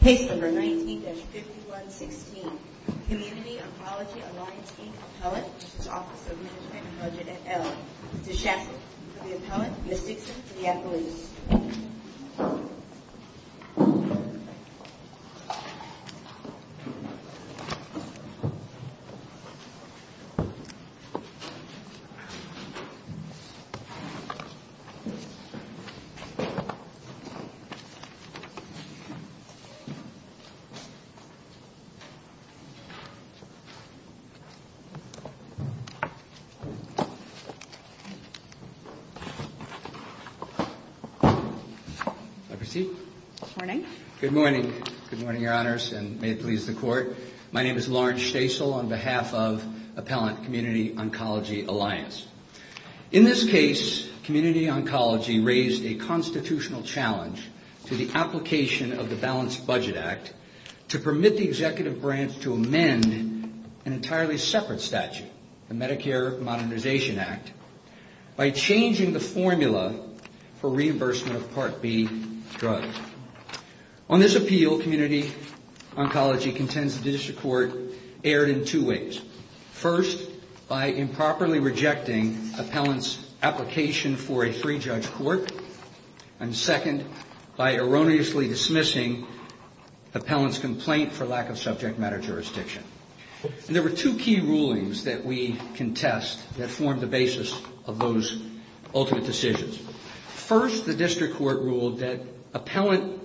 Page number 19-5116 Community Oncology Alliance, Inc. Appellate, Office of Management and Budget at ELLE Mrs. Shaffer for the Appellate, Mrs. Dixon for the Appellate Good morning. Good morning. Good morning, Your Honors, and may it please the Court. My name is Lawrence Stasel on behalf of Appellate Community Oncology Alliance. In this case, Community Oncology raised a constitutional challenge to the application of the Balanced Budget Act to permit the executive branch to amend an entirely separate statute, the Medicare Modernization Act, by changing the formula for reimbursement of Part B drugs. On this appeal, Community Oncology contends the District Court erred in two ways. First, by improperly rejecting Appellant's application for a free judge court, and second, by erroneously dismissing Appellant's complaint for lack of subject matter jurisdiction. There were two key rulings that we contest that formed the basis of those ultimate decisions. First, the District Court ruled that Appellant,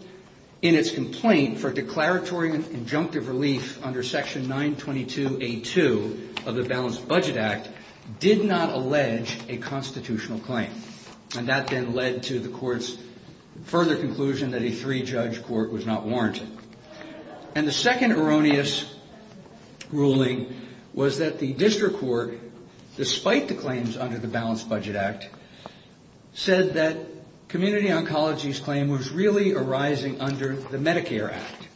in its complaint for declaratory and injunctive relief under Section 922A2 of the Balanced Budget Act, did not allege a constitutional claim. And that then led to the Court's further conclusion that a three-judge court was not warranted. And the second erroneous ruling was that the District Court, despite the claims under the Balanced Budget Act, said that Community Oncology's claim was really arising under the Medicare Act,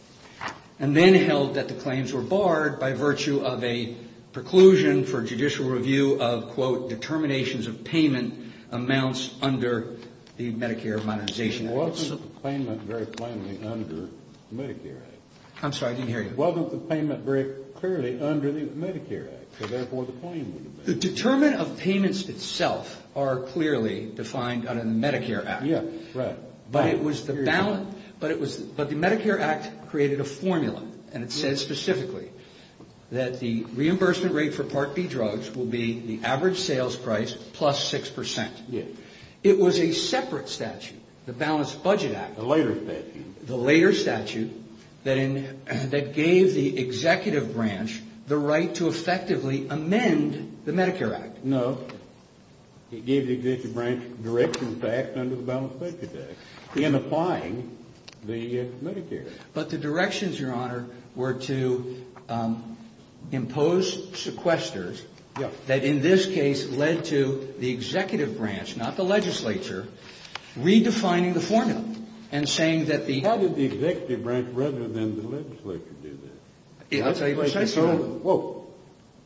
and then held that the claims were barred by virtue of a preclusion for judicial review of, quote, the determinations of payment amounts under the Medicare Monetization Act. It wasn't the payment very plainly under the Medicare Act. I'm sorry, I didn't hear you. It wasn't the payment very clearly under the Medicare Act, so therefore the claim would have been... The determinant of payments itself are clearly defined under the Medicare Act. Yes, right. But the Medicare Act created a formula, and it said specifically that the reimbursement rate for Part B drugs will be the average sales price plus 6%. Yes. It was a separate statute, the Balanced Budget Act. The later statute. The later statute that gave the executive branch the right to effectively amend the Medicare Act. No, it gave the executive branch direction to act under the Balanced Budget Act in applying the Medicare Act. But the directions, Your Honor, were to impose sequesters that in this case led to the executive branch, not the legislature, redefining the formula and saying that the... How did the executive branch rather than the legislature do this? I'll tell you precisely.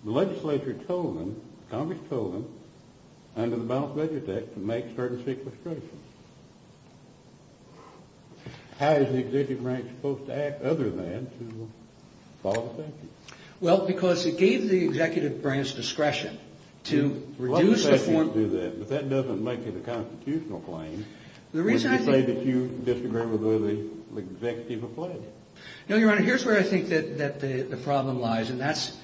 The legislature told them, Congress told them, under the Balanced Budget Act, to make certain sequestrations. How is the executive branch supposed to act other than to follow the statute? Well, because it gave the executive branch discretion to reduce the form... A lot of statutes do that, but that doesn't make it a constitutional claim. The reason I think... You say that you disagree with whether the executive applies. No, Your Honor, here's where I think that the problem lies, and that's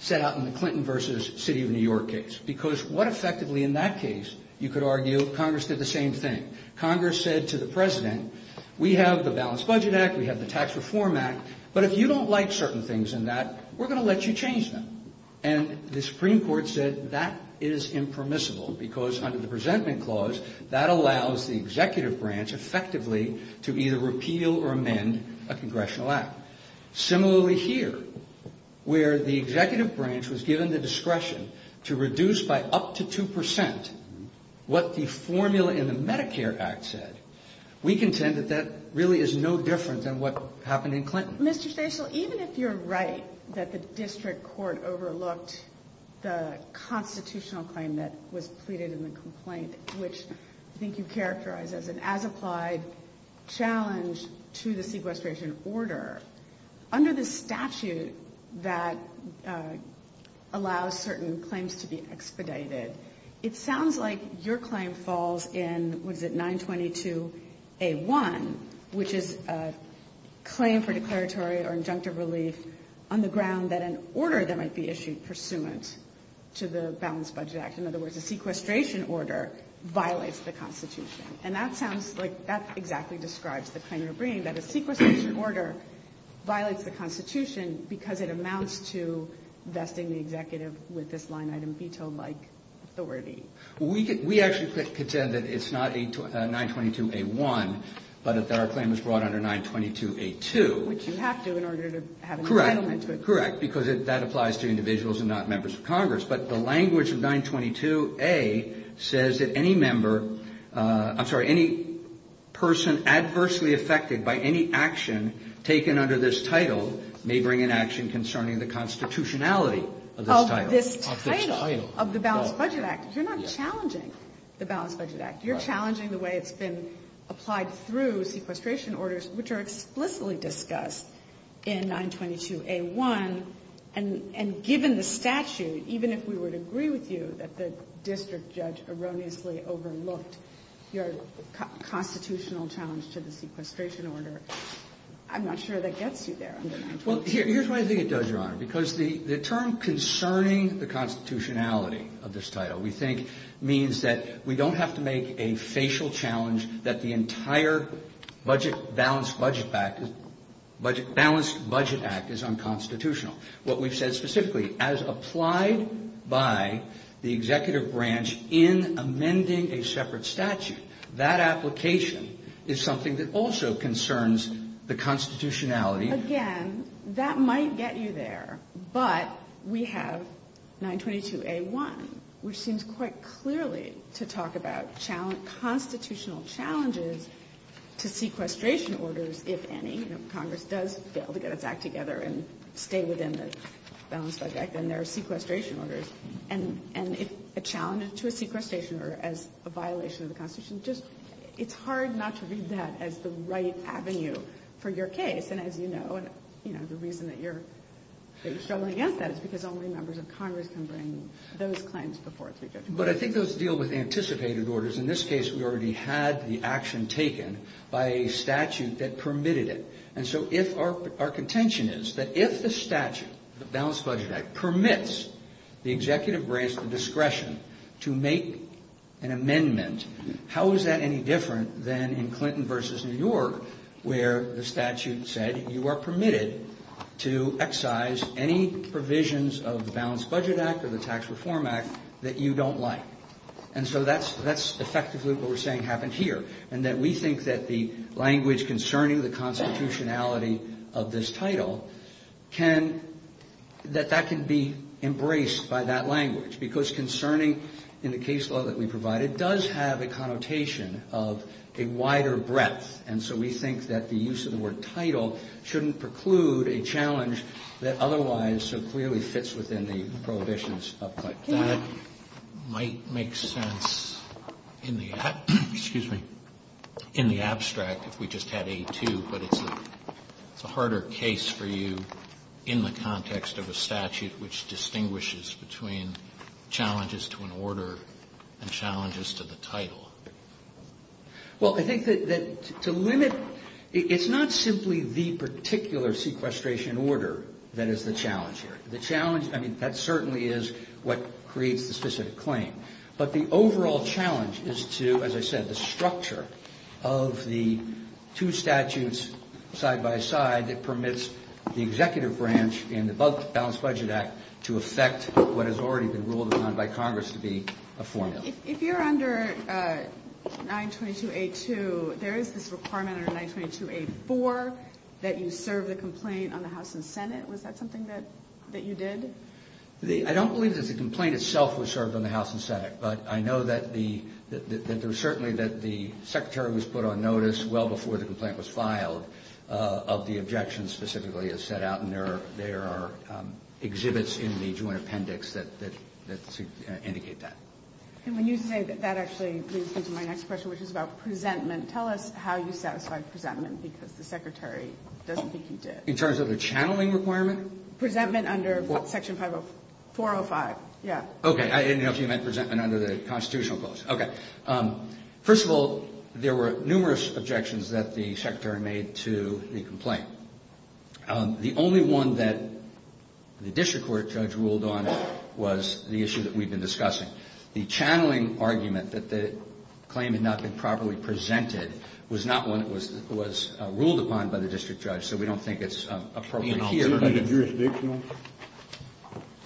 set out in the Clinton versus City of New York case. Because what effectively in that case you could argue, Congress did the same thing. Congress said to the President, we have the Balanced Budget Act, we have the Tax Reform Act, but if you don't like certain things in that, we're going to let you change them. And the Supreme Court said that is impermissible because under the Presentment Clause, that allows the executive branch effectively to either repeal or amend a congressional act. Similarly here, where the executive branch was given the discretion to reduce by up to 2% what the formula in the Medicare Act said, we contend that that really is no different than what happened in Clinton. Mr. Stachel, even if you're right that the district court overlooked the constitutional claim that was pleaded in the complaint, which I think you characterize as an as-applied challenge to the sequestration order, under the statute that allows certain claims to be expedited, it sounds like your claim falls in, what is it, 922A1, which is a claim for declaratory or injunctive relief on the ground that an order that might be issued pursuant to the Balanced Budget Act, in other words, a sequestration order, violates the Constitution. And that sounds like that exactly describes the claim you're bringing, that a sequestration order violates the Constitution because it amounts to vesting the executive with this line-item veto-like authority. We actually contend that it's not 922A1, but that our claim is brought under 922A2. Which you have to in order to have an entitlement to it. Correct, because that applies to individuals and not members of Congress. But the language of 922A says that any member, I'm sorry, any person adversely affected by any action taken under this title may bring an action concerning the constitutionality of this title. Of this title. Of this title. Of the Balanced Budget Act. You're not challenging the Balanced Budget Act. You're challenging the way it's been applied through sequestration orders, which are explicitly discussed in 922A1. And given the statute, even if we would agree with you that the district judge erroneously overlooked your constitutional challenge to the sequestration order, I'm not sure that gets you there. Well, here's what I think it does, Your Honor, because the term concerning the constitutionality of this title we think means that we don't have to make a facial challenge that the entire Balanced Budget Act is unconstitutional. What we've said specifically, as applied by the executive branch in amending a separate statute, that application is something that also concerns the constitutionality. Again, that might get you there, but we have 922A1, which seems quite clearly to talk about constitutional challenges to sequestration orders, if any. You know, Congress does fail to get its act together and stay within the Balanced Budget Act, and there are sequestration orders. And a challenge to a sequestration order as a violation of the constitution, just, it's hard not to read that as the right avenue for your case. And as you know, the reason that you're struggling against that is because only members of Congress can bring those claims before a three-judge court. But I think those deal with anticipated orders. In this case, we already had the action taken by a statute that permitted it. And so if our contention is that if the statute, the Balanced Budget Act, permits the executive branch the discretion to make an amendment, how is that any different than in Clinton v. New York, where the statute said you are permitted to excise any provisions of the Balanced Budget Act or the Tax Reform Act that you don't like? And so that's effectively what we're saying happened here, and that we think that the language concerning the constitutionality of this title can, that that can be embraced by that language. Because concerning in the case law that we provided does have a connotation of a wider breadth, and so we think that the use of the word title shouldn't preclude a challenge that otherwise so clearly fits within the prohibitions of Clinton. Kennedy. That might make sense in the, excuse me, in the abstract if we just had A2, but it's a harder case for you in the context of a statute which distinguishes between challenges to an order and challenges to the title. Well, I think that to limit, it's not simply the particular sequestration order that is the challenge here. The challenge, I mean, that certainly is what creates the specific claim. But the overall challenge is to, as I said, the structure of the two statutes side by side that permits the executive branch and the Balanced Budget Act to affect what has already been ruled upon by Congress to be a formula. If you're under 922A2, there is this requirement under 922A4 that you serve the complaint on the House and Senate. Was that something that you did? I don't believe that the complaint itself was served on the House and Senate, but I know that there was certainly that the secretary was put on notice well before the complaint was filed of the objections specifically as set out, and there are exhibits in the joint appendix that indicate that. And when you say that, that actually leads me to my next question, which is about presentment. Tell us how you satisfied presentment because the secretary doesn't think you did. In terms of the channeling requirement? Presentment under Section 405, yeah. Okay, I didn't know if you meant presentment under the constitutional clause. Okay. First of all, there were numerous objections that the secretary made to the complaint. The only one that the district court judge ruled on was the issue that we've been discussing. The channeling argument that the claim had not been properly presented was not one that was ruled upon by the district judge, so we don't think it's appropriate here. Isn't it jurisdictional?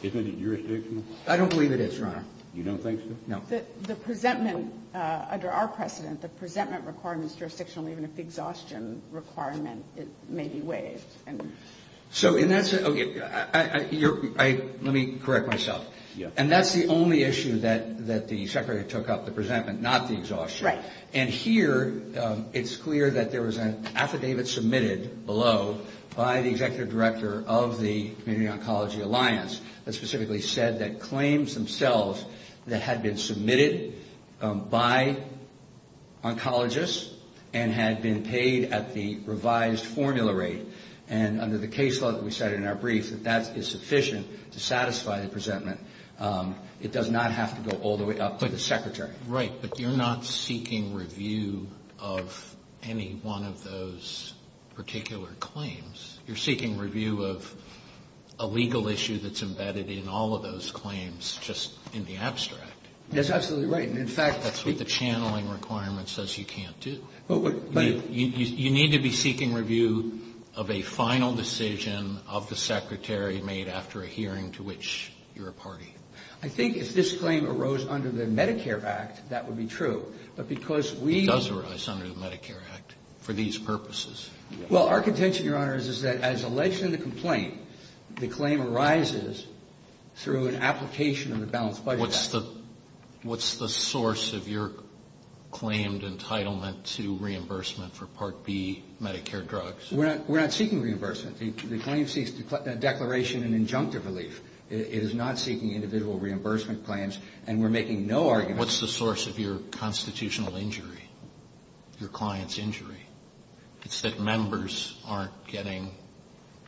Isn't it jurisdictional? I don't believe it is, Your Honor. You don't think so? No. The presentment under our precedent, the presentment requirement is jurisdictional even if the exhaustion requirement may be waived. So in that sense, okay, let me correct myself. Yeah. And that's the only issue that the secretary took up, the presentment, not the exhaustion. Right. And here it's clear that there was an affidavit submitted below by the executive director of the Community Oncology Alliance that specifically said that claims themselves that had been submitted by oncologists and had been paid at the revised formula rate, and under the case law that we cited in our brief that that is sufficient to satisfy the presentment. It does not have to go all the way up to the secretary. Right. But you're not seeking review of any one of those particular claims. You're seeking review of a legal issue that's embedded in all of those claims, just in the abstract. That's absolutely right. And, in fact ---- That's what the channeling requirement says you can't do. You need to be seeking review of a final decision of the secretary made after a hearing to which you're a party. I think if this claim arose under the Medicare Act, that would be true. But because we ---- It does arise under the Medicare Act for these purposes. Well, our contention, Your Honor, is that as alleged in the complaint, the claim arises through an application of the balanced budget act. What's the source of your claimed entitlement to reimbursement for Part B Medicare drugs? We're not seeking reimbursement. The claim seeks declaration and injunctive relief. It is not seeking individual reimbursement claims. And we're making no argument ---- What's the source of your constitutional injury, your client's injury? It's that members aren't getting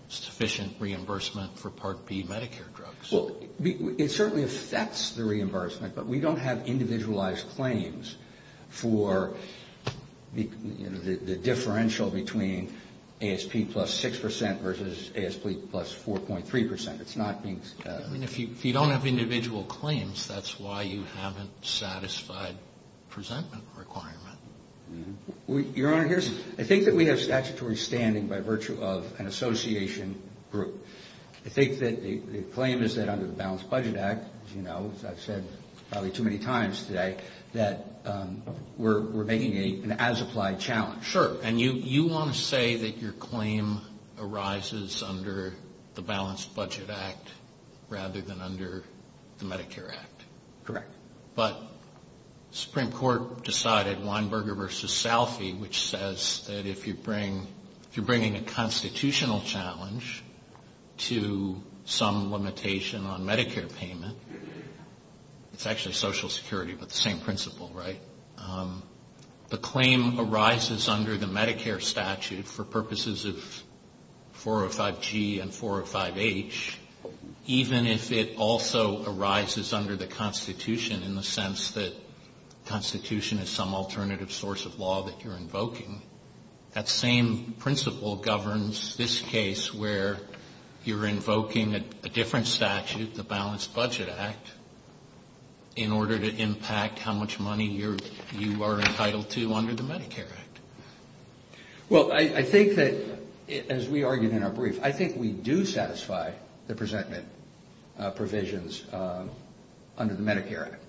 sufficient reimbursement for Part B Medicare drugs. Well, it certainly affects the reimbursement. But we don't have individualized claims for the differential between ASP plus 6 percent versus ASP plus 4.3 percent. It's not being ---- I mean, if you don't have individual claims, that's why you haven't satisfied presentment requirement. Your Honor, here's ---- I think that we have statutory standing by virtue of an association group. I think that the claim is that under the balanced budget act, as you know, as I've said probably too many times today, that we're making an as-applied challenge. Sure. And you want to say that your claim arises under the balanced budget act rather than under the Medicare act? Correct. But the Supreme Court decided Weinberger versus Salphy, which says that if you bring ---- if you're bringing a constitutional challenge to some limitation on Medicare payment, it's actually Social Security, but the same principle, right? The claim arises under the Medicare statute for purposes of 405G and 405H, even if it also arises under the Constitution in the sense that Constitution is some alternative source of law that you're invoking. That same principle governs this case where you're invoking a different statute, the balanced budget act, in order to impact how much money you are entitled to under the Medicare act. Well, I think that, as we argued in our brief, I think we do satisfy the presentment provisions under the Medicare act.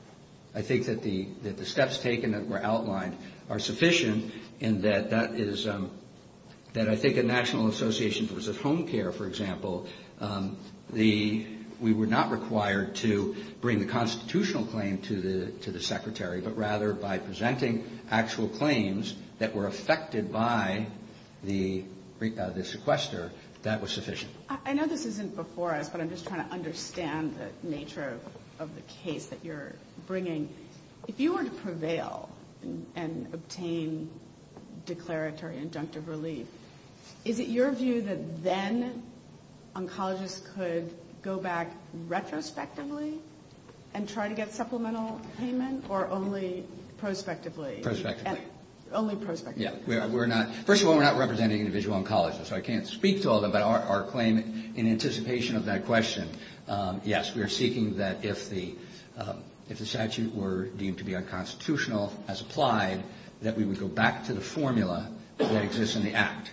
I think that the steps taken that were outlined are sufficient and that that is ---- that I think a national association for home care, for example, the ---- we were not required to bring the constitutional claim to the secretary, but rather by presenting actual claims that were affected by the sequester, that was sufficient. I know this isn't before us, but I'm just trying to understand the nature of the case that you're bringing. If you were to prevail and obtain declaratory inductive relief, is it your view that then oncologists could go back retrospectively and try to get supplemental payment or only prospectively? Prospectively. Only prospectively. Yeah. We're not ---- first of all, we're not representing individual oncologists, so I can't speak to all of them, but our claim in anticipation of that question, yes, we are seeking that if the statute were deemed to be unconstitutional as applied, that we would go back to the formula that exists in the act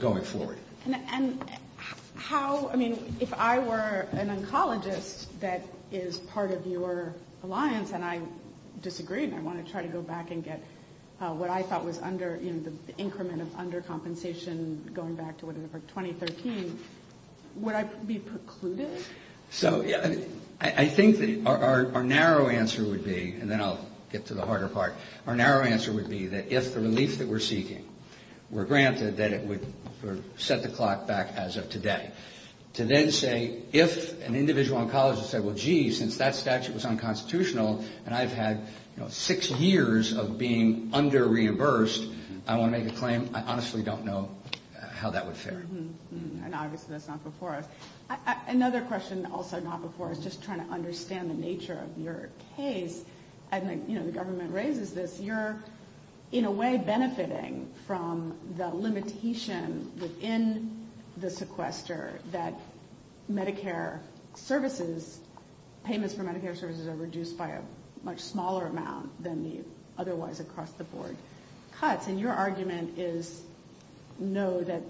going forward. And how ---- I mean, if I were an oncologist that is part of your alliance and I disagreed and I want to try to go back and get what I thought was under, you know, the increment of undercompensation going back to whatever, 2013, would I be precluded? So, yeah, I think that our narrow answer would be, and then I'll get to the harder part, our narrow answer would be that if the relief that we're seeking were granted, that it would set the clock back as of today. To then say, if an individual oncologist said, well, gee, since that statute was unconstitutional and I've had, you know, six years of being under-reimbursed, I want to make a claim, I honestly don't know how that would fare. And obviously that's not before us. Another question also not before us, just trying to understand the nature of your case, and, you know, the government raises this, but you're in a way benefiting from the limitation within the sequester that Medicare services, payments for Medicare services are reduced by a much smaller amount than the otherwise across-the-board cuts. And your argument is, no, that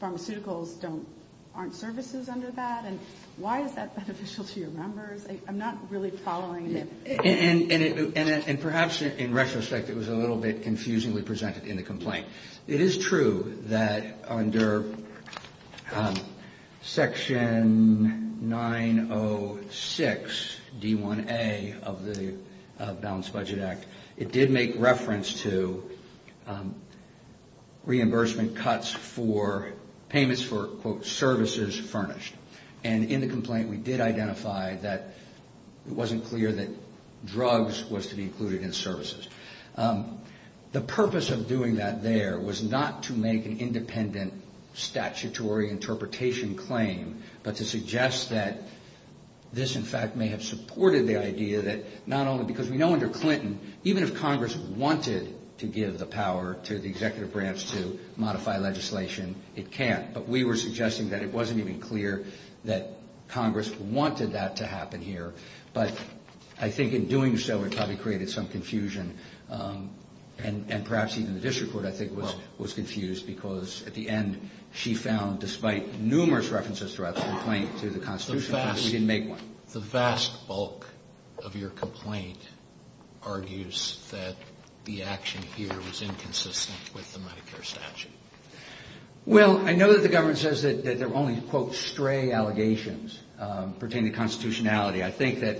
pharmaceuticals aren't services under that? And why is that beneficial to your members? I'm not really following. And perhaps in retrospect it was a little bit confusingly presented in the complaint. It is true that under Section 906D1A of the Balanced Budget Act, it did make reference to reimbursement cuts for payments for, quote, services furnished. And in the complaint we did identify that it wasn't clear that drugs was to be included in services. The purpose of doing that there was not to make an independent statutory interpretation claim, but to suggest that this, in fact, may have supported the idea that not only because we know under Clinton, even if Congress wanted to give the power to the executive branch to modify legislation, it can't. But we were suggesting that it wasn't even clear that Congress wanted that to happen here. But I think in doing so it probably created some confusion. And perhaps even the district court, I think, was confused because at the end she found, despite numerous references throughout the complaint to the Constitution, that we didn't make one. The vast bulk of your complaint argues that the action here was inconsistent with the Medicare statute. Well, I know that the government says that they're only, quote, stray allegations pertaining to constitutionality. I think that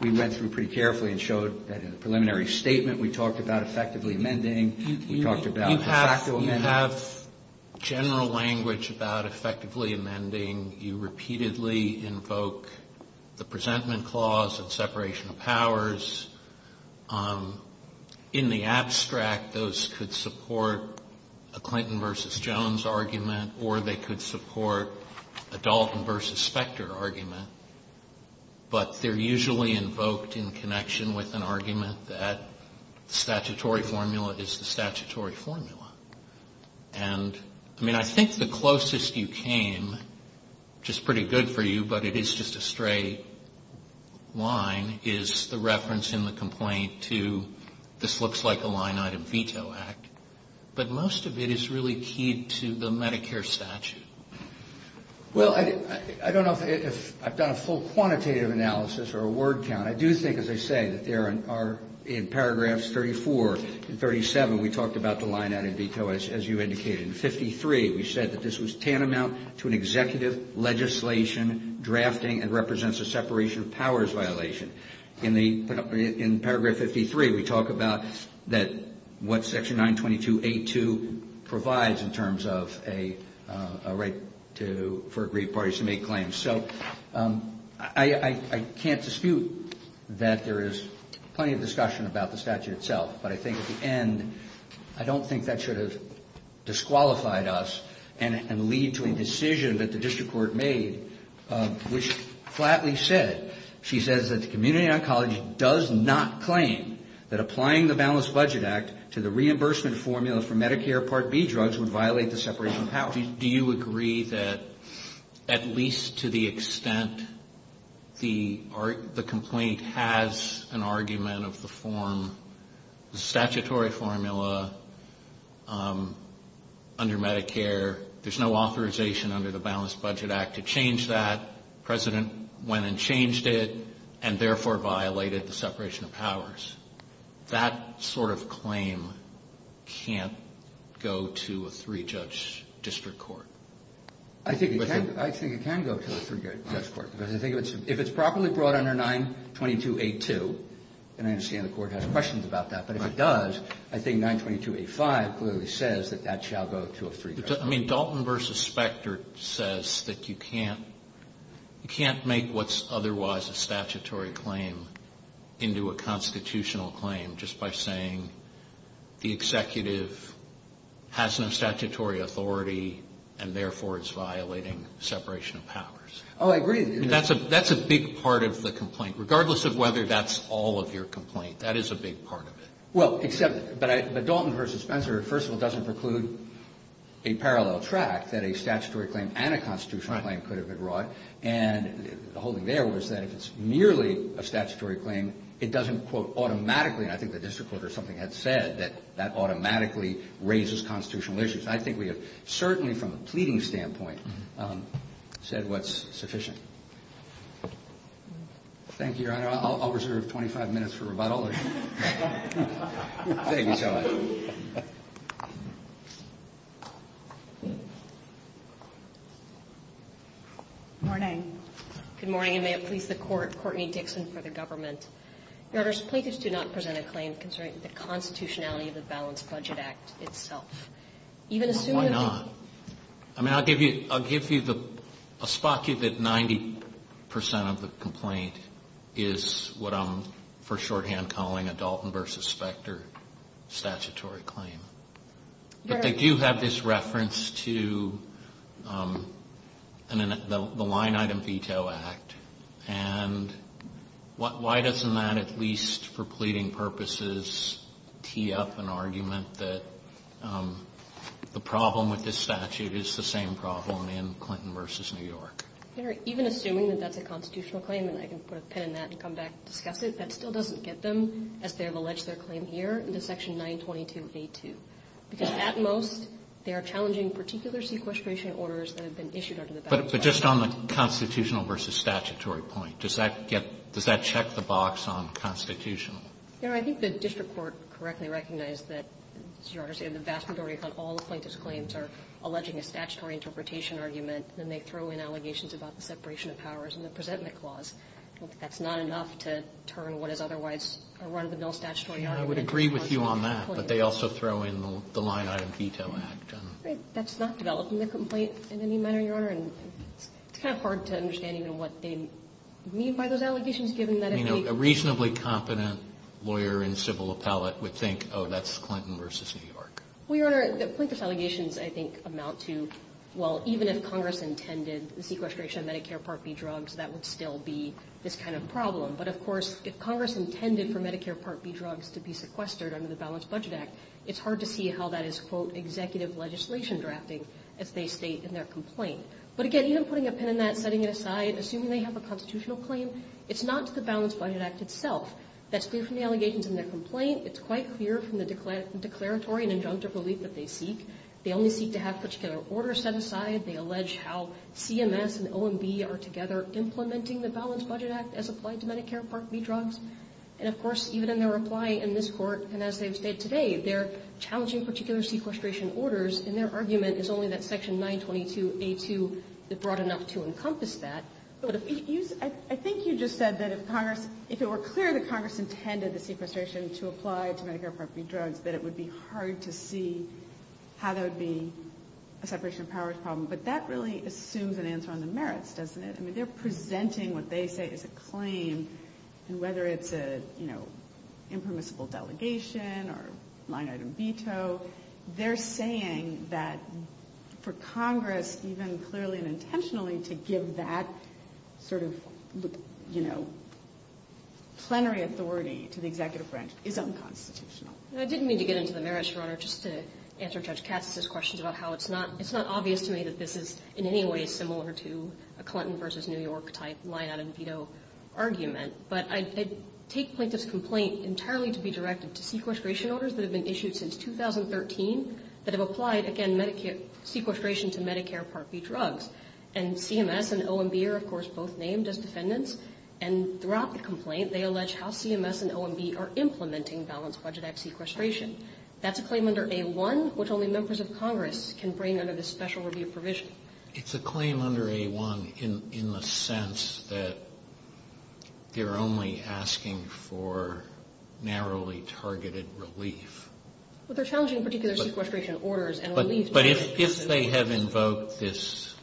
we went through pretty carefully and showed that in the preliminary statement we talked about effectively amending. We talked about de facto amending. You have general language about effectively amending. You repeatedly invoke the presentment clause and separation of powers. In the abstract, those could support a Clinton versus Jones argument, or they could support a Dalton versus Specter argument. But they're usually invoked in connection with an argument that statutory formula is the statutory formula. And, I mean, I think the closest you came, which is pretty good for you, but it is just a stray line, is the reference in the complaint to this looks like a line-item veto act. But most of it is really keyed to the Medicare statute. Well, I don't know if I've done a full quantitative analysis or a word count. I do think, as I say, that there are, in paragraphs 34 and 37, we talked about the line-item veto, as you indicated. In 53, we said that this was tantamount to an executive legislation drafting and represents a separation of powers violation. In paragraph 53, we talk about what section 922A2 provides in terms of a right for aggrieved parties to make claims. So I can't dispute that there is plenty of discussion about the statute itself. But I think at the end, I don't think that should have disqualified us and lead to a decision that the district court made, which flatly said, she says that the community oncology does not claim that applying the balanced budget act to the reimbursement formula for Medicare Part B drugs would violate the separation of powers. Do you agree that at least to the extent the complaint has an argument of the form, the statutory formula under Medicare, there's no authorization under the balanced budget act to change that, the President went and changed it, and therefore violated the separation of powers, that sort of claim can't go to a three-judge district court? I think it can go to a three-judge court. If it's properly brought under 922A2, then I understand the Court has questions about that. But if it does, I think 922A5 clearly says that that shall go to a three-judge court. Dalton v. Specter says that you can't make what's otherwise a statutory claim into a constitutional claim just by saying the executive has no statutory authority, and therefore it's violating separation of powers. That's a big part of the complaint. Regardless of whether that's all of your complaint, that is a big part of it. But Dalton v. Spencer, first of all, doesn't preclude a parallel track that a statutory claim and a constitutional claim could have been brought. And the whole thing there was that if it's merely a statutory claim, it doesn't quote automatically, and I think the district court or something had said, that that automatically raises constitutional issues. I think we have certainly, from a pleading standpoint, said what's sufficient. Thank you, Your Honor. I'll reserve 25 minutes for rebuttal. Thank you so much. Good morning. Good morning, and may it please the Court. Courtney Dixon for the government. Your Honor, plaintiffs do not present a claim concerning the constitutionality of the Balanced Budget Act itself. Why not? I mean, I'll give you the spot that 90 percent of the complaint is what I'm for shorthand calling a Dalton v. Specter statutory claim. Your Honor. But they do have this reference to the Line Item Veto Act. And why doesn't that, at least for pleading purposes, tee up an argument that the problem with this statute is the same problem in Clinton v. New York? Your Honor, even assuming that that's a constitutional claim, and I can put a pin in that and come back and discuss it, that still doesn't get them, as they have alleged their claim here, into Section 922A2. Because at most, they are challenging particular sequestration orders that have been issued under the Balanced Budget Act. But just on the constitutional versus statutory point, does that get – does that check the box on constitutional? Your Honor, I think the district court correctly recognized that, as Your Honor said, the vast majority of all plaintiffs' claims are alleging a statutory interpretation argument, and they throw in allegations about the separation of powers and the presentment clause. That's not enough to turn what is otherwise a run-of-the-mill statutory argument into a constitutional claim. I would agree with you on that, but they also throw in the Line Item Veto Act. That's not developing the complaint in any manner, Your Honor. And it's kind of hard to understand even what they mean by those allegations, given that if they – I mean, a reasonably competent lawyer and civil appellate would think, oh, that's Clinton versus New York. Well, Your Honor, the plaintiffs' allegations, I think, amount to, well, even if Congress intended the sequestration of Medicare Part B drugs, that would still be this kind of problem. But, of course, if Congress intended for Medicare Part B drugs to be sequestered under the Balanced Budget Act, it's hard to see how that is, quote, executive legislation drafting, as they state in their complaint. But, again, even putting a pin in that, setting it aside, assuming they have a constitutional claim, it's not to the Balanced Budget Act itself. That's different from the allegations in their complaint. It's quite clear from the declaratory and injunctive relief that they seek. They only seek to have particular orders set aside. They allege how CMS and OMB are together implementing the Balanced Budget Act as applied to Medicare Part B drugs. And, of course, even in their reply in this Court, and as they've stated today, they're challenging particular sequestration orders, and their argument is only that Section 922A2 is broad enough to encompass that. But if you use – I think you just said that if Congress – if it were clear that Congress intended the sequestration to apply to Medicare Part B drugs, that it would be hard to see how there would be a separation of powers problem. But that really assumes an answer on the merits, doesn't it? I mean, they're presenting what they say is a claim, and whether it's a, you know, impermissible delegation or line-item veto, they're saying that for Congress even clearly and intentionally to give that sort of, you know, plenary authority to the executive branch is unconstitutional. I didn't mean to get into the merits, Your Honor, just to answer Judge Katz's questions about how it's not – it's not obvious to me that this is in any way similar to a Clinton v. New York type line-item veto argument. But I take Plaintiff's complaint entirely to be directed to sequestration orders that have been issued since 2013 that have applied, again, Medicare – sequestration to Medicare Part B drugs. And CMS and OMB are, of course, both named as defendants. And throughout the complaint, they allege how CMS and OMB are implementing Balanced Budget Act sequestration. That's a claim under A1, which only members of Congress can bring under this special review provision. It's a claim under A1 in the sense that they're only asking for narrowly targeted relief. But they're challenging particular sequestration orders. But if they have invoked this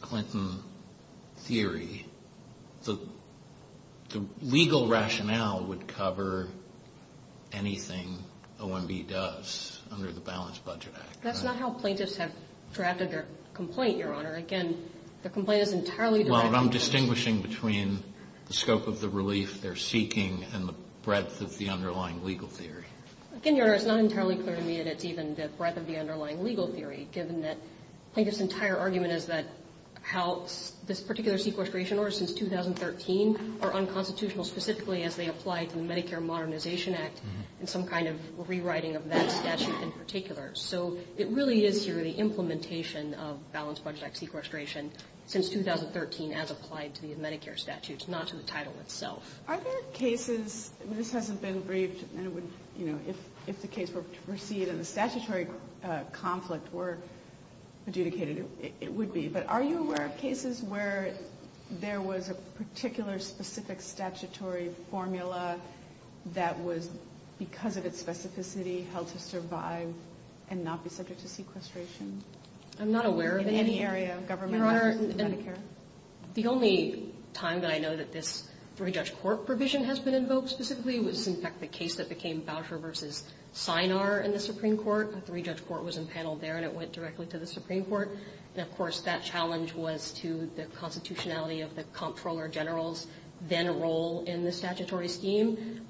Clinton theory, the legal rationale would cover anything OMB does under the Balanced Budget Act. That's not how plaintiffs have drafted their complaint, Your Honor. Again, the complaint is entirely directed to – Well, and I'm distinguishing between the scope of the relief they're seeking and the breadth of the underlying legal theory. Again, Your Honor, it's not entirely clear to me that it's even the breadth of the underlying legal theory, given that Plaintiff's entire argument is that how this particular sequestration order since 2013 are unconstitutional specifically as they apply to the Medicare Modernization Act and some kind of rewriting of that statute in particular. So it really is here the implementation of Balanced Budget Act sequestration since 2013 as applied to the Medicare statutes, not to the title itself. Are there cases – this hasn't been briefed, and if the case were to proceed and the statutory conflict were adjudicated, it would be. But are you aware of cases where there was a particular specific statutory formula that was, because of its specificity, held to survive and not be subject to sequestration? I'm not aware of any. In any area of government. Your Honor, the only time that I know that this three-judge court provision has been invoked specifically was, in fact, the case that became Boucher v. Synar in the Supreme Court. A three-judge court was impaneled there, and it went directly to the Supreme Court. And, of course, that challenge was to the constitutionality of the comptroller general's then role in the statutory scheme.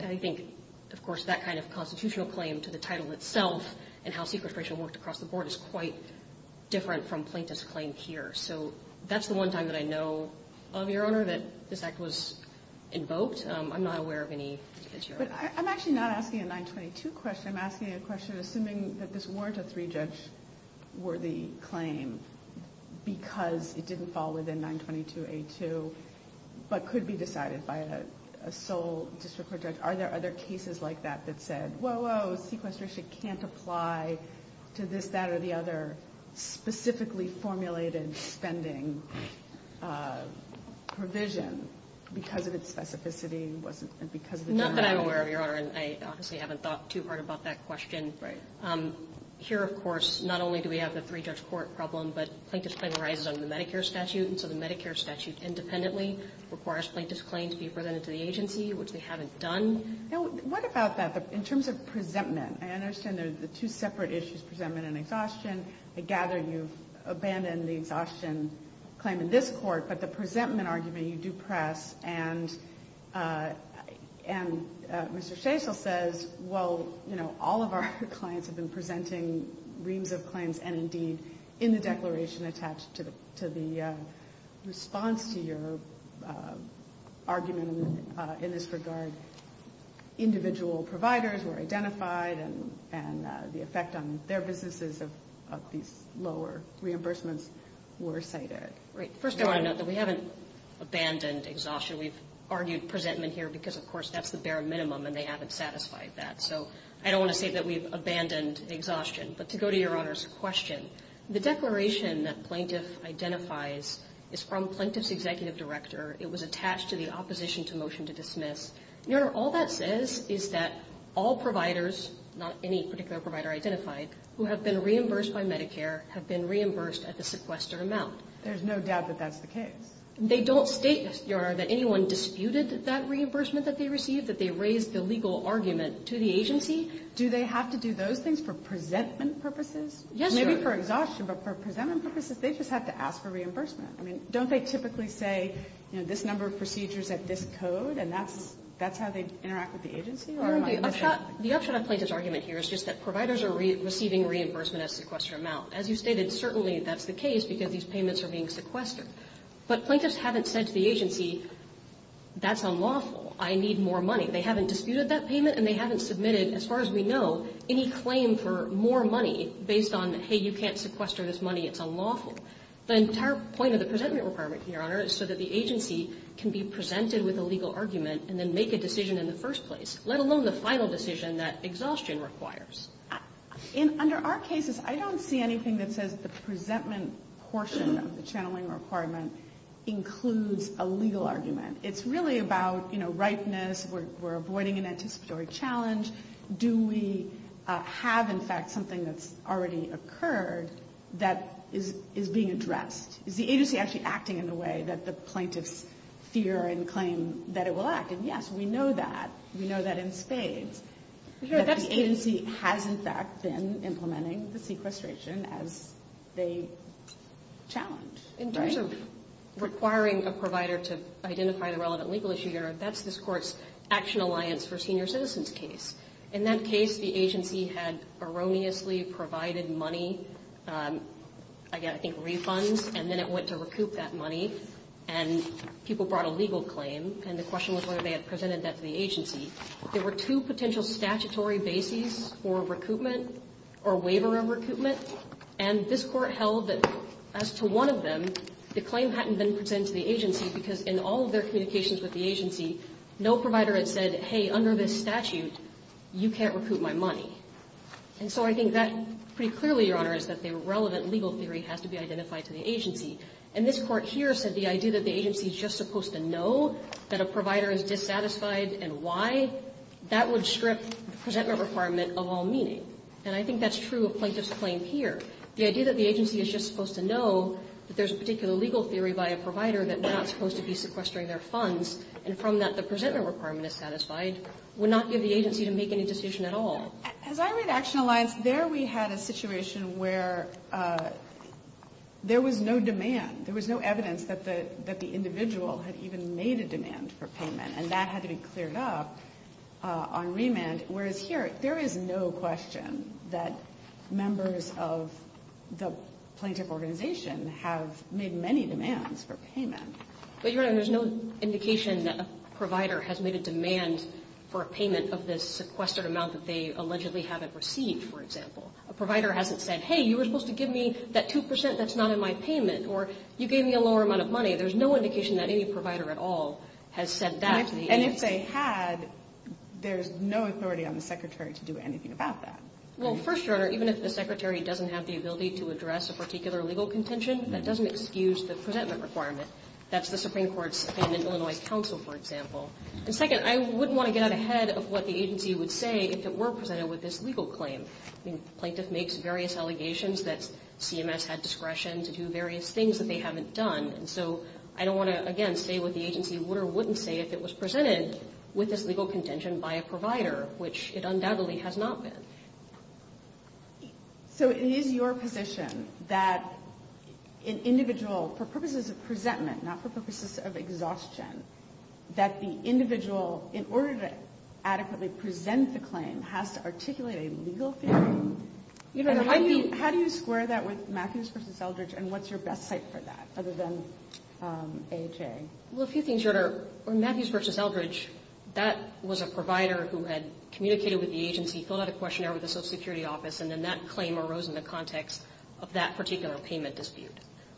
I think, of course, that kind of constitutional claim to the title itself and how sequestration worked across the board is quite different from plaintiff's claim here. So that's the one time that I know of, Your Honor, that this act was invoked. I'm not aware of any. But I'm actually not asking a 922 question. I'm asking a question assuming that this weren't a three-judge worthy claim because it didn't fall within 922A2, but could be decided by a sole district court judge. Are there other cases like that that said, whoa, whoa, sequestration can't apply to this, that, or the other specifically formulated spending provision because of its specificity and because of its generality? Not that I'm aware of, Your Honor, and I obviously haven't thought too hard about that question. Right. Here, of course, not only do we have the three-judge court problem, but plaintiff's claim arises under the Medicare statute, and so the Medicare statute independently requires plaintiff's claim to be presented to the agency, which they haven't done. Now, what about that? In terms of presentment, I understand there are the two separate issues, presentment and exhaustion. I gather you've abandoned the exhaustion claim in this court, but the presentment argument you do press, and Mr. Shacel says, well, you know, all of our clients have been presenting reams of claims, and indeed, in the declaration attached to the response to your argument in this regard, individual providers were identified, and the effect on their businesses of these lower reimbursements were cited. Right. First, I want to note that we haven't abandoned exhaustion. We've argued presentment here because, of course, that's the bare minimum, and they haven't satisfied that. So I don't want to say that we've abandoned exhaustion. But to go to Your Honor's question, the declaration that plaintiff identifies is from plaintiff's executive director. It was attached to the opposition to motion to dismiss. Your Honor, all that says is that all providers, not any particular provider identified, who have been reimbursed by Medicare have been reimbursed at the sequester amount. There's no doubt that that's the case. They don't state, Your Honor, that anyone disputed that reimbursement that they received, that they raised the legal argument to the agency. Do they have to do those things for presentment purposes? Yes, Your Honor. Maybe for exhaustion, but for presentment purposes, they just have to ask for reimbursement. I mean, don't they typically say, you know, this number of procedures at this code, and that's how they interact with the agency? Or am I missing something? The upshot of plaintiff's argument here is just that providers are receiving reimbursement at a sequester amount. As you stated, certainly that's the case because these payments are being sequestered. But plaintiffs haven't said to the agency, that's unlawful. I need more money. They haven't disputed that payment, and they haven't submitted, as far as we know, any claim for more money based on, hey, you can't sequester this money, it's unlawful. The entire point of the presentment requirement, Your Honor, is so that the agency can be presented with a legal argument and then make a decision in the first place, let alone the final decision that exhaustion requires. Under our cases, I don't see anything that says the presentment portion of the channeling requirement includes a legal argument. It's really about, you know, ripeness. We're avoiding an anticipatory challenge. Do we have, in fact, something that's already occurred that is being addressed? Is the agency actually acting in a way that the plaintiffs fear and claim that it will act? And, yes, we know that. We know that in spades. But the agency has, in fact, been implementing the sequestration as they challenge. In terms of requiring a provider to identify the relevant legal issue, Your Honor, that's this Court's Action Alliance for Senior Citizens case. In that case, the agency had erroneously provided money, I think refunds, and then it went to recoup that money, and people brought a legal claim, and the question was whether they had presented that to the agency. There were two potential statutory bases for recoupment or waiver of recoupment, and this Court held that as to one of them, the claim hadn't been presented to the agency because in all of their communications with the agency, no provider had said, hey, under this statute, you can't recoup my money. And so I think that pretty clearly, Your Honor, is that the relevant legal theory has to be identified to the agency. And this Court here said the idea that the agency is just supposed to know that a provider is dissatisfied and why, that would strip the presentment requirement of all meaning. And I think that's true of Plaintiff's claim here. The idea that the agency is just supposed to know that there's a particular legal theory by a provider that we're not supposed to be sequestering their funds and from that the presentment requirement is satisfied would not give the agency to make any decision at all. As I read Action Alliance, there we had a situation where there was no demand. There was no evidence that the individual had even made a demand for payment, and that had to be cleared up on remand. Whereas here, there is no question that members of the plaintiff organization have made many demands for payment. But, Your Honor, there's no indication that a provider has made a demand for a payment of this sequestered amount that they allegedly haven't received, for example. A provider hasn't said, hey, you were supposed to give me that 2 percent that's not in my payment, or you gave me a lower amount of money. If they had, there's no authority on the Secretary to do anything about that. Well, first, Your Honor, even if the Secretary doesn't have the ability to address a particular legal contention, that doesn't excuse the presentment requirement. That's the Supreme Court's opinion in Illinois Council, for example. And second, I wouldn't want to get out ahead of what the agency would say if it were presented with this legal claim. Plaintiff makes various allegations that CMS had discretion to do various things that they haven't done, and so I don't want to, again, say what the agency would or wouldn't say if it was presented with this legal contention by a provider, which it undoubtedly has not been. So it is your position that an individual, for purposes of presentment, not for purposes of exhaustion, that the individual, in order to adequately present the claim, has to articulate a legal theory? How do you square that with Matthews v. Eldridge, and what's your best site for that, other than AHA? Well, a few things, Your Honor. On Matthews v. Eldridge, that was a provider who had communicated with the agency, filled out a questionnaire with the Social Security office, and then that claim arose in the context of that particular payment dispute.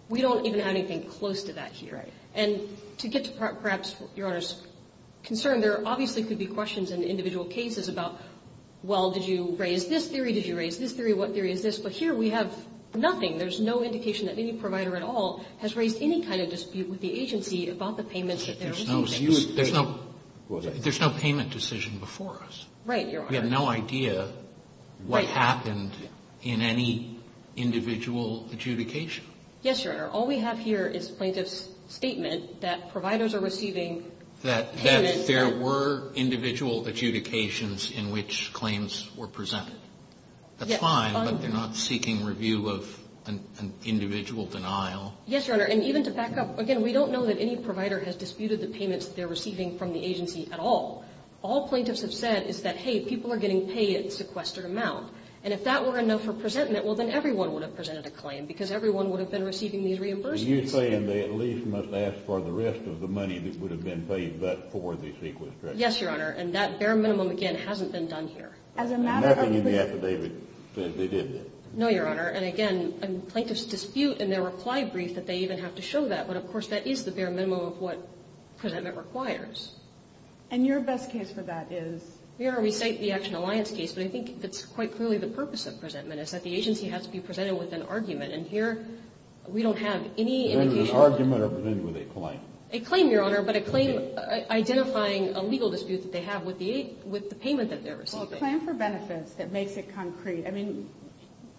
We don't even have anything close to that here. And to get to perhaps Your Honor's concern, there obviously could be questions in individual cases about, well, did you raise this theory, did you raise this theory, what theory is this? But here we have nothing. There's no indication that any provider at all has raised any kind of dispute with the agency about the payments that they're receiving. There's no payment decision before us. Right, Your Honor. We have no idea what happened in any individual adjudication. Yes, Your Honor. All we have here is plaintiff's statement that providers are receiving payments that they're receiving. That there were individual adjudications in which claims were presented. That's fine, but they're not seeking review of an individual denial. Yes, Your Honor. And even to back up, again, we don't know that any provider has disputed the payments that they're receiving from the agency at all. All plaintiffs have said is that, hey, people are getting paid a sequestered amount. And if that were enough for presentment, well, then everyone would have presented a claim because everyone would have been receiving these reimbursements. Are you saying they at least must ask for the rest of the money that would have been paid but for the sequestered amount? Yes, Your Honor. And that bare minimum, again, hasn't been done here. Nothing in the affidavit says they didn't. No, Your Honor. And again, plaintiffs dispute in their reply brief that they even have to show that. But, of course, that is the bare minimum of what presentment requires. And your best case for that is? Your Honor, we cite the Action Alliance case, but I think that's quite clearly the purpose of presentment, is that the agency has to be presented with an argument. And here we don't have any indication of that. Presented with an argument or presented with a claim? A claim, Your Honor, but a claim identifying a legal dispute that they have with the payment that they're receiving. Well, a claim for benefits that makes it concrete. I mean,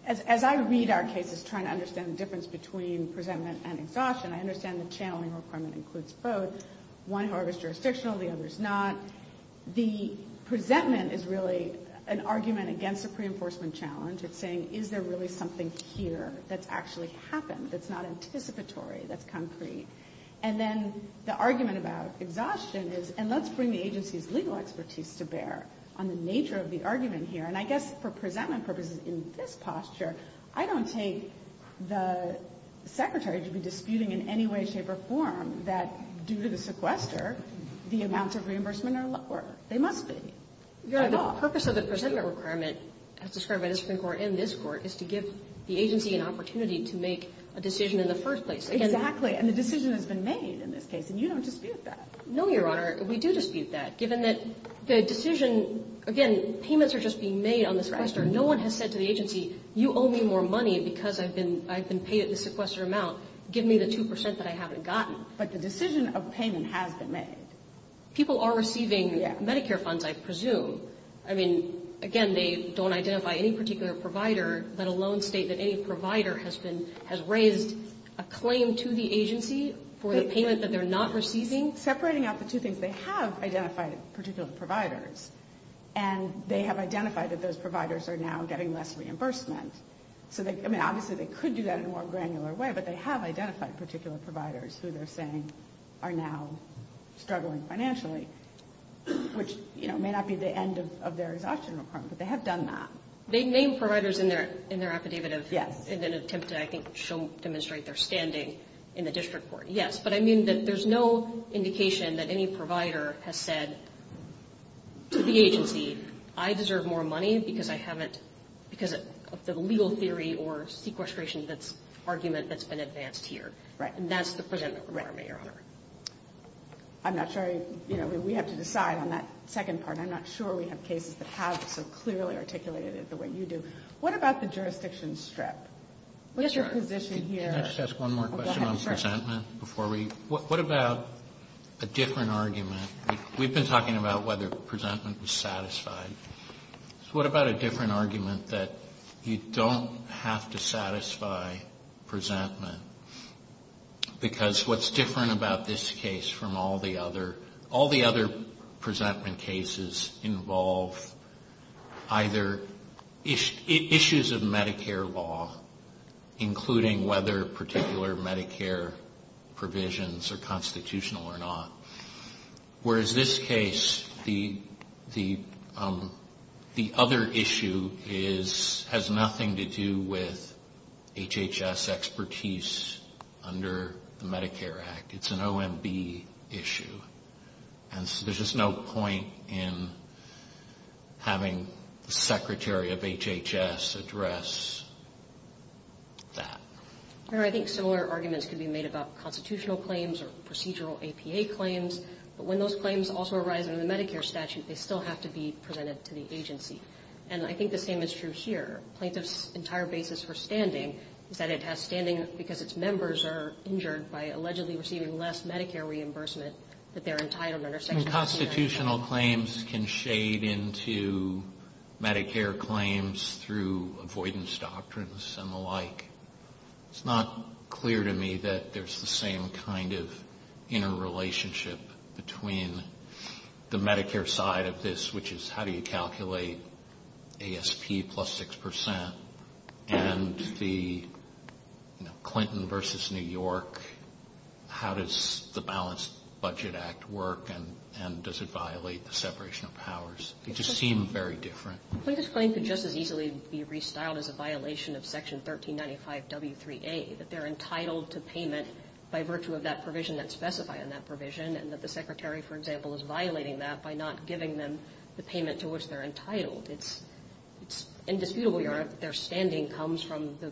as I read our cases trying to understand the difference between presentment and exhaustion, I understand the channeling requirement includes both. One, however, is jurisdictional. The other is not. The presentment is really an argument against a pre-enforcement challenge. It's saying, is there really something here that's actually happened that's not anticipatory, that's concrete? And then the argument about exhaustion is, and let's bring the agency's legal expertise to bear on the nature of the argument here. And I guess for presentment purposes in this posture, I don't take the Secretary to be disputing in any way, shape, or form that due to the sequester, the amounts of reimbursement are lower. They must be. They're not. The purpose of the presentment requirement, as described by this Supreme Court and this Court, is to give the agency an opportunity to make a decision in the first place. Exactly. And the decision has been made in this case, and you don't dispute that. No, Your Honor. We do dispute that. Given that the decision, again, payments are just being made on the sequester. No one has said to the agency, you owe me more money because I've been paid at the sequester amount. Give me the 2 percent that I haven't gotten. But the decision of payment has been made. People are receiving Medicare funds, I presume. I mean, again, they don't identify any particular provider, let alone state that any provider has been, has raised a claim to the agency for the payment that they're not receiving. Separating out the two things, they have identified particular providers, and they have identified that those providers are now getting less reimbursement. I mean, obviously, they could do that in a more granular way, but they have identified particular providers who they're saying are now struggling financially, which may not be the end of their exhaustion requirement, but they have done that. They name providers in their affidavit in an attempt to, I think, demonstrate their standing in the district court. Yes, but I mean that there's no indication that any provider has said to the agency, I deserve more money because I haven't, because of the legal theory or sequestration argument that's been advanced here. Right. And that's the presentment requirement, Your Honor. I'm not sure, you know, we have to decide on that second part. I'm not sure we have cases that have so clearly articulated it the way you do. What about the jurisdiction strip? Yes, Your Honor. What's your position here? Can I just ask one more question on presentment before we go? What about a different argument? We've been talking about whether presentment was satisfied. What about a different argument that you don't have to satisfy presentment because what's different about this case from all the other, all the other presentment cases involve either issues of Medicare law, including whether particular Medicare provisions are constitutional or not. Whereas this case, the other issue has nothing to do with HHS expertise under the Medicare Act. It's an OMB issue. And so there's just no point in having the Secretary of HHS address that. Your Honor, I think similar arguments can be made about constitutional claims or procedural APA claims. But when those claims also arise under the Medicare statute, they still have to be presented to the agency. And I think the same is true here. Plaintiff's entire basis for standing is that it has standing because its members are injured by allegedly receiving less Medicare reimbursement that they're entitled under Section 179. I mean, constitutional claims can shade into Medicare claims through avoidance doctrines and the like. It's not clear to me that there's the same kind of interrelationship between the Medicare side of this, which is how do you calculate ASP plus 6 percent, and the Clinton versus New York, how does the Balanced Budget Act work, and does it violate the separation of powers? They just seem very different. Clinton's claim could just as easily be restyled as a violation of Section 1395W3A, that they're entitled to payment by virtue of that provision that's specified in that provision, and that the Secretary, for example, is violating that by not giving them the payment to which they're entitled. It's indisputable, Your Honor, that their standing comes from the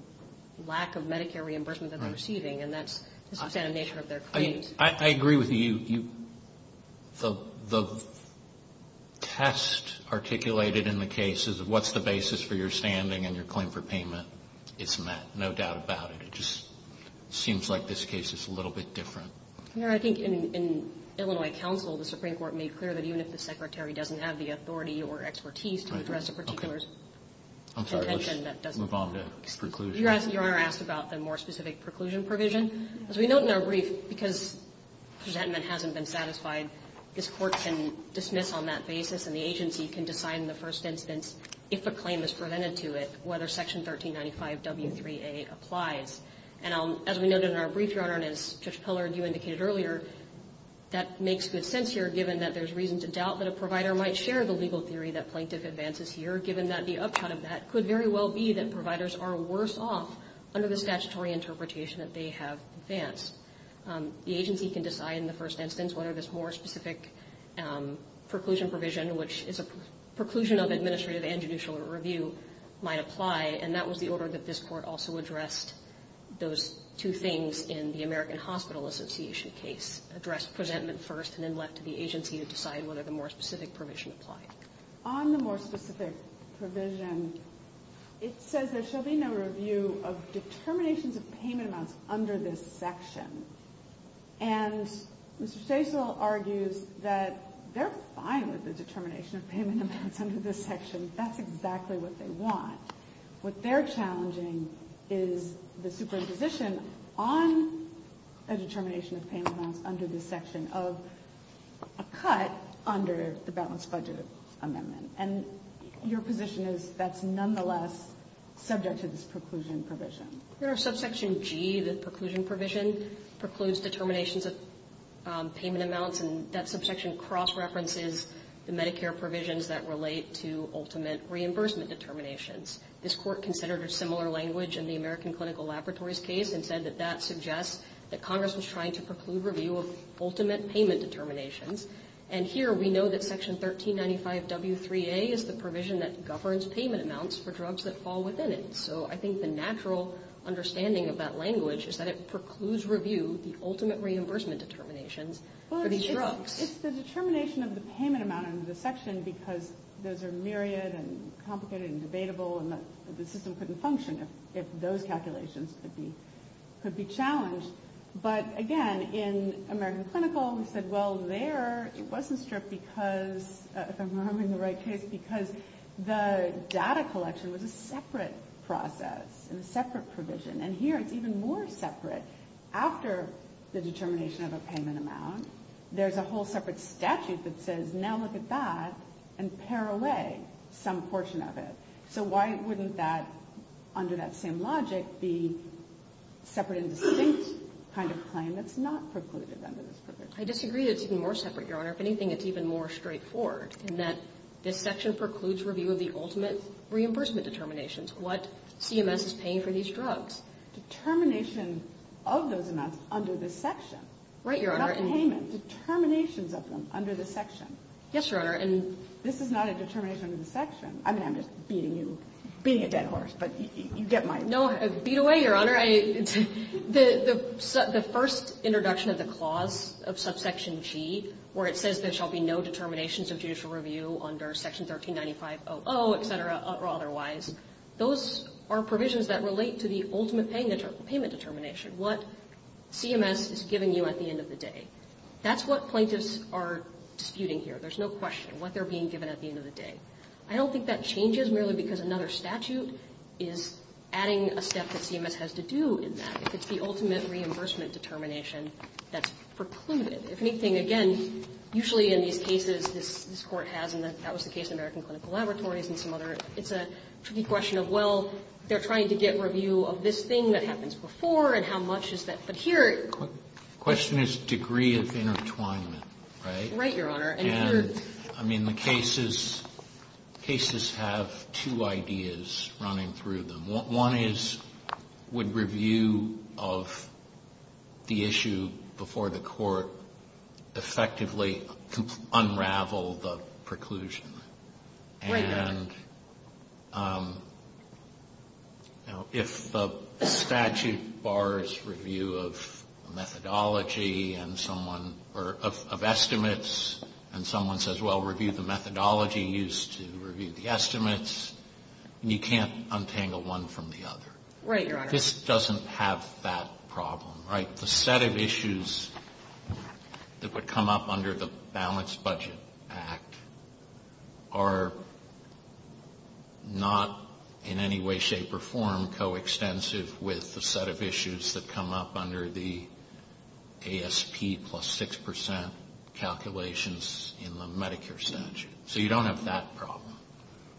lack of Medicare reimbursement that they're receiving, and that's the substantive nature of their claims. I agree with you. The test articulated in the case is what's the basis for your standing and your claim for payment is met, no doubt about it. It just seems like this case is a little bit different. Your Honor, I think in Illinois counsel, the Supreme Court made clear that even if the Secretary doesn't have the authority or expertise to address a particular contention, that doesn't... I'm sorry. Let's move on to preclusion. Your Honor asked about the more specific preclusion provision. As we note in our brief, because resentment hasn't been satisfied, this Court can dismiss on that basis, and the agency can decide in the first instance, if a claim is prevented to it, whether Section 1395W3A applies. And as we noted in our brief, Your Honor, and as Judge Pillard, you indicated earlier, that makes good sense here, given that there's reason to doubt that a provider might share the legal theory that plaintiff advances here, given that the upshot of that could very well be that providers are worse off under the statutory interpretation that they have advanced. The agency can decide in the first instance whether this more specific preclusion provision, which is a preclusion of administrative and judicial review, might apply, and that was the order that this Court also addressed those two things in the American Hospital Association case. Addressed resentment first, and then left to the agency to decide whether the more specific provision applied. On the more specific provision, it says there shall be no review of determinations of payment amounts under this section. And Mr. Stasel argues that they're fine with the determination of payment amounts under this section. That's exactly what they want. What they're challenging is the superimposition on a determination of payment amounts under this section of a cut under the balanced budget amendment. And your position is that's nonetheless subject to this preclusion provision. Your Honor, subsection G, the preclusion provision, precludes determinations of payment amounts, and that subsection cross-references the Medicare provisions that relate to ultimate reimbursement determinations. This Court considered a similar language in the American Clinical Laboratories case and said that that suggests that Congress was trying to preclude review of ultimate payment determinations. And here we know that Section 1395W3A is the provision that governs payment amounts for drugs that fall within it. So I think the natural understanding of that language is that it precludes review of the ultimate reimbursement determinations for these drugs. It's the determination of the payment amount under the section because those are myriad and complicated and debatable and the system couldn't function if those calculations could be challenged. But, again, in American Clinical we said, well, there it wasn't stripped because, if I'm remembering the right case, because the data collection was a separate process and a separate provision. And here it's even more separate. After the determination of a payment amount, there's a whole separate statute that says, now look at that, and pare away some portion of it. So why wouldn't that, under that same logic, be separate and distinct kind of claim that's not precluded under this provision? I disagree that it's even more separate, Your Honor. If anything, it's even more straightforward in that this section precludes review of the ultimate reimbursement determinations, what CMS is paying for these drugs. Determination of those amounts under the section. Right, Your Honor. Not the payment. Determinations of them under the section. Yes, Your Honor. And this is not a determination of the section. I mean, I'm just beating you, beating a dead horse, but you get my point. No, beat away, Your Honor. The first introduction of the clause of subsection G where it says there shall be no determinations of judicial review under section 1395.00, et cetera, or otherwise, those are provisions that relate to the ultimate payment determination, what CMS is giving you at the end of the day. That's what plaintiffs are disputing here. There's no question what they're being given at the end of the day. I don't think that changes merely because another statute is adding a step that CMS has to do in that, if it's the ultimate reimbursement determination that's precluded. If anything, again, usually in these cases, this Court has, and that was the case in American Clinical Laboratories and some other, it's a tricky question of, well, they're trying to get review of this thing that happens before, and how much is that? But here. The question is degree of intertwinement, right? Right, Your Honor. And I mean, the cases, cases have two ideas running through them. One is, would review of the issue before the Court effectively unravel the preclusion? Right, Your Honor. And, you know, if the statute bars review of methodology and someone, or of estimates, and someone says, well, review the methodology used to review the estimates, you can't untangle one from the other. Right, Your Honor. This doesn't have that problem, right? The set of issues that would come up under the Balanced Budget Act are not in any way, shape, or form coextensive with the set of issues that come up under the ASP plus 6% calculations in the Medicare statute. So you don't have that problem.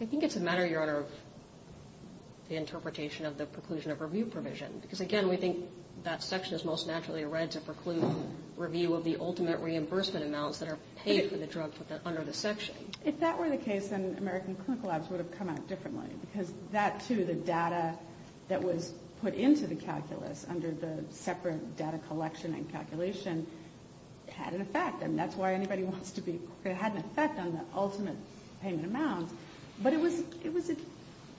I think it's a matter, Your Honor, of the interpretation of the preclusion of review provision. Because, again, we think that section is most naturally read to preclude review of the ultimate reimbursement amounts that are paid for the drug under the section. If that were the case, then American Clinical Labs would have come out differently. Because that, too, the data that was put into the calculus under the separate data collection and calculation had an effect. And that's why anybody wants to be, it had an effect on the ultimate payment amounts. But it was,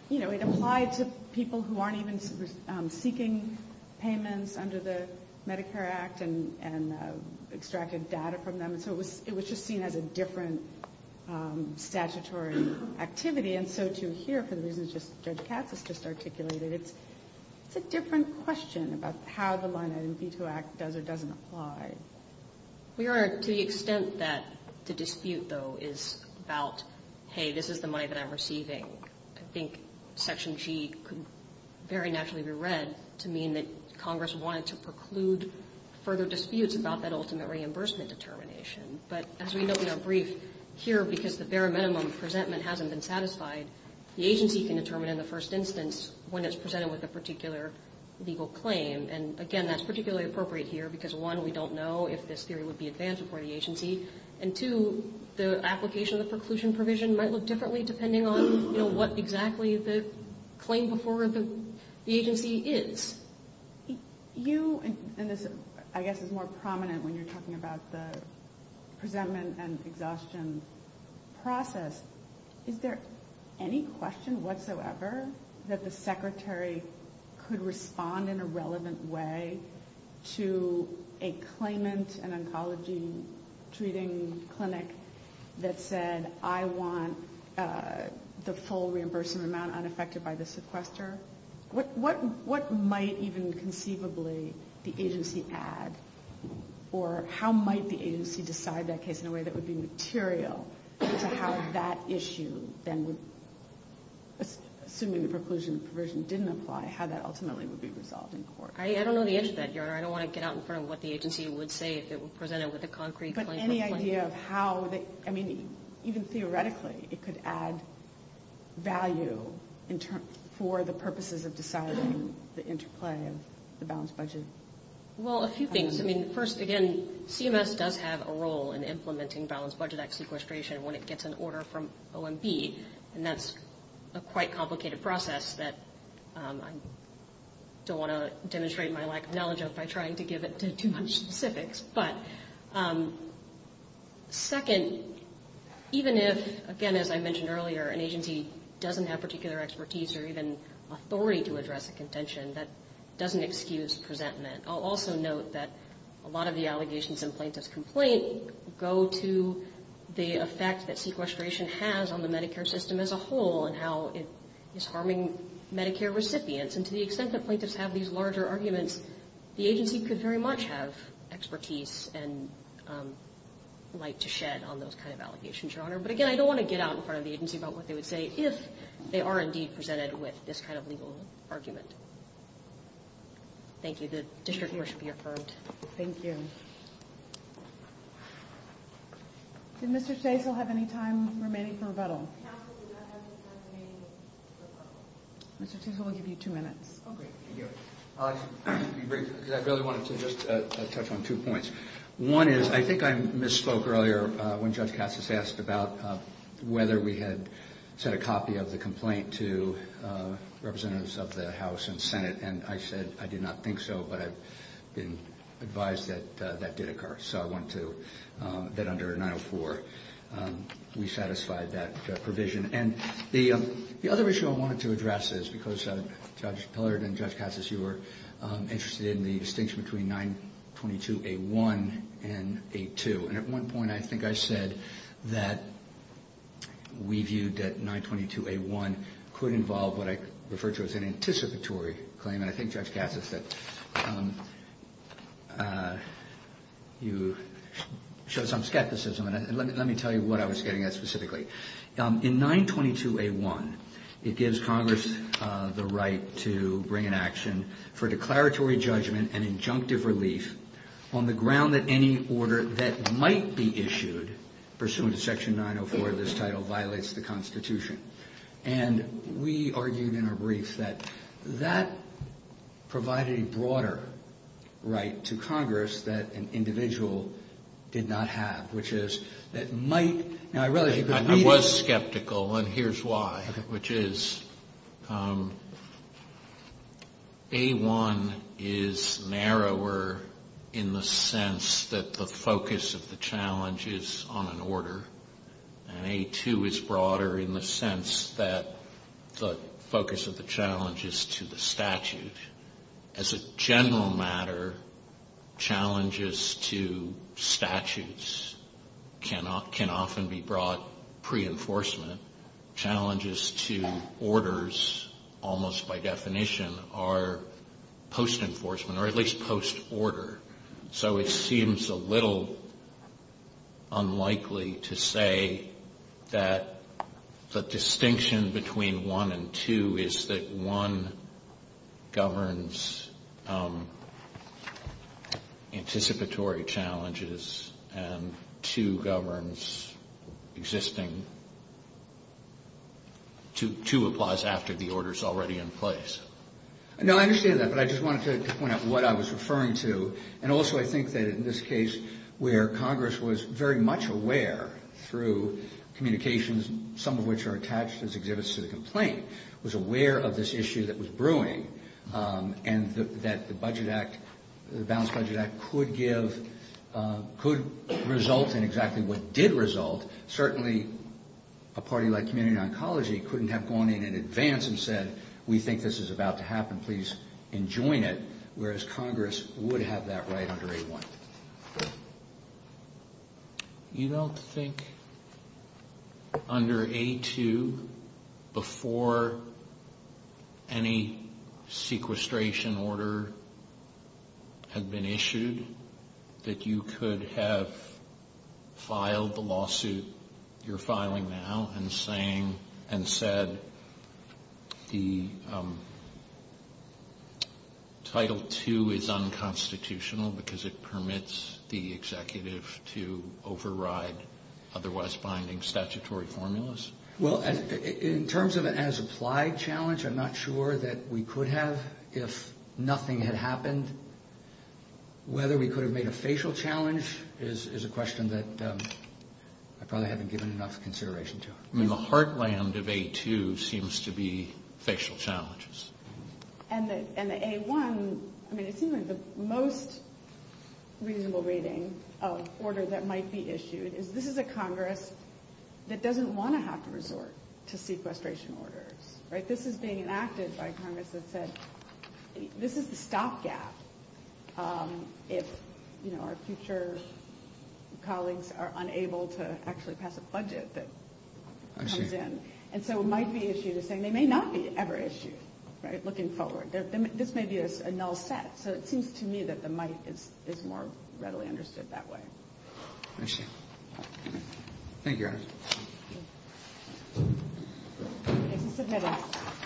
you know, it applied to people who aren't even seeking payments under the Medicare Act and extracted data from them. So it was just seen as a different statutory activity. And so, too, here, for the reasons Judge Katz has just articulated, it's a different question about how the line item veto act does or doesn't apply. We are, to the extent that the dispute, though, is about, hey, this is the money that I'm receiving. I think section G could very naturally be read to mean that Congress wanted to preclude further disputes about that ultimate reimbursement determination. But as we note in our brief, here, because the bare minimum presentment hasn't been satisfied, the agency can determine in the first instance when it's presented with a particular legal claim. And, again, that's particularly appropriate here because, one, we don't know if this theory would be advanced before the agency. And, two, the application of the preclusion provision might look differently depending on, you know, what exactly the claim before the agency is. You, and this, I guess, is more prominent when you're talking about the presentment and exhaustion process. Is there any question whatsoever that the Secretary could respond in a relevant way to a claimant, an oncology treating clinic that said, I want the full reimbursement amount unaffected by the sequester? What might even conceivably the agency add, or how might the agency decide that case in a way that would be more relevant to that issue than would, assuming the preclusion provision didn't apply, how that ultimately would be resolved in court? I don't know the answer to that, Your Honor. I don't want to get out in front of what the agency would say if it were presented with a concrete claim. But any idea of how, I mean, even theoretically, it could add value for the purposes of deciding the interplay of the balanced budget? Well, a few things. I mean, first, again, CMS does have a role in implementing balanced budget act sequestration when it gets an order from OMB, and that's a quite complicated process that I don't want to demonstrate my lack of knowledge of by trying to give it too much specifics. But second, even if, again, as I mentioned earlier, an agency doesn't have particular expertise or even authority to address a contention, that doesn't excuse presentment. I'll also note that a lot of the allegations in plaintiff's complaint go to the effect that sequestration has on the Medicare system as a whole and how it is harming Medicare recipients. And to the extent that plaintiffs have these larger arguments, the agency could very much have expertise and light to shed on those kind of allegations, Your Honor. But, again, I don't want to get out in front of the agency about what they would say if they are indeed presented with this kind of legal argument. Thank you. The district court should be affirmed. Thank you. Did Mr. Stasel have any time remaining for rebuttal? Counsel did not have any time remaining for rebuttal. Mr. Stasel, we'll give you two minutes. Oh, great. Thank you. I'll be brief because I really wanted to just touch on two points. One is I think I misspoke earlier when Judge Cassis asked about whether we had sent a copy of the complaint to representatives of the House and Senate. And I said I did not think so, but I've been advised that that did occur. So I want to, that under 904 we satisfied that provision. And the other issue I wanted to address is because Judge Pillard and Judge Cassis, you were interested in the distinction between 922A1 and 8-2. And at one point I think I said that we viewed that 922A1 could involve what I refer to as an anticipatory claim. And I think Judge Cassis said you showed some skepticism. And let me tell you what I was getting at specifically. In 922A1, it gives Congress the right to bring an action for declaratory judgment and injunctive relief on the ground that any order that might be issued, pursuant to Section 904 of this title, violates the Constitution. And we argued in our brief that that provided a broader right to Congress that an individual did not have, which is that might, now I realize you could read it. I was skeptical, and here's why, which is A1 is narrower in the sense that the focus of the challenge is on an order. And 8-2 is broader in the sense that the focus of the challenge is to the statute. As a general matter, challenges to statutes can often be brought pre-enforcement. Challenges to orders, almost by definition, are post-enforcement or at least post-order. So it seems a little unlikely to say that the distinction between 1 and 2 is that 1 governs anticipatory challenges and 2 governs existing to 2 applies after the order is already in place. No, I understand that, but I just wanted to point out what I was referring to. And also I think that in this case where Congress was very much aware through communications, some of which are attached as exhibits to the complaint, was aware of this issue that was brewing and that the Budget Act, the Balanced Budget Act, could give, could result in exactly what did result. Certainly a party like Community Oncology couldn't have gone in in advance and said, we think this is about to happen, please enjoin it, whereas Congress would have that right under A1. You don't think under A2, before any sequestration order had been issued, that you could have filed the lawsuit you're filing now and saying, and said, the Title 2 is unconstitutional because it permits the executive to override otherwise binding statutory formulas? Well, in terms of an as-applied challenge, I'm not sure that we could have if nothing had happened. Whether we could have made a facial challenge is a question that I probably haven't given enough consideration to. I mean, the heartland of A2 seems to be facial challenges. And the A1, I mean, it seems like the most reasonable reading of order that might be issued is this is a Congress that doesn't want to have to resort to sequestration orders, right? This is being enacted by Congress that said, this is the stopgap if, you know, our future colleagues are unable to actually pass a budget that comes in. And so it might be issued as saying they may not be ever issued, right, looking forward. This may be a null set. So it seems to me that the might is more readily understood that way. I see. Thank you.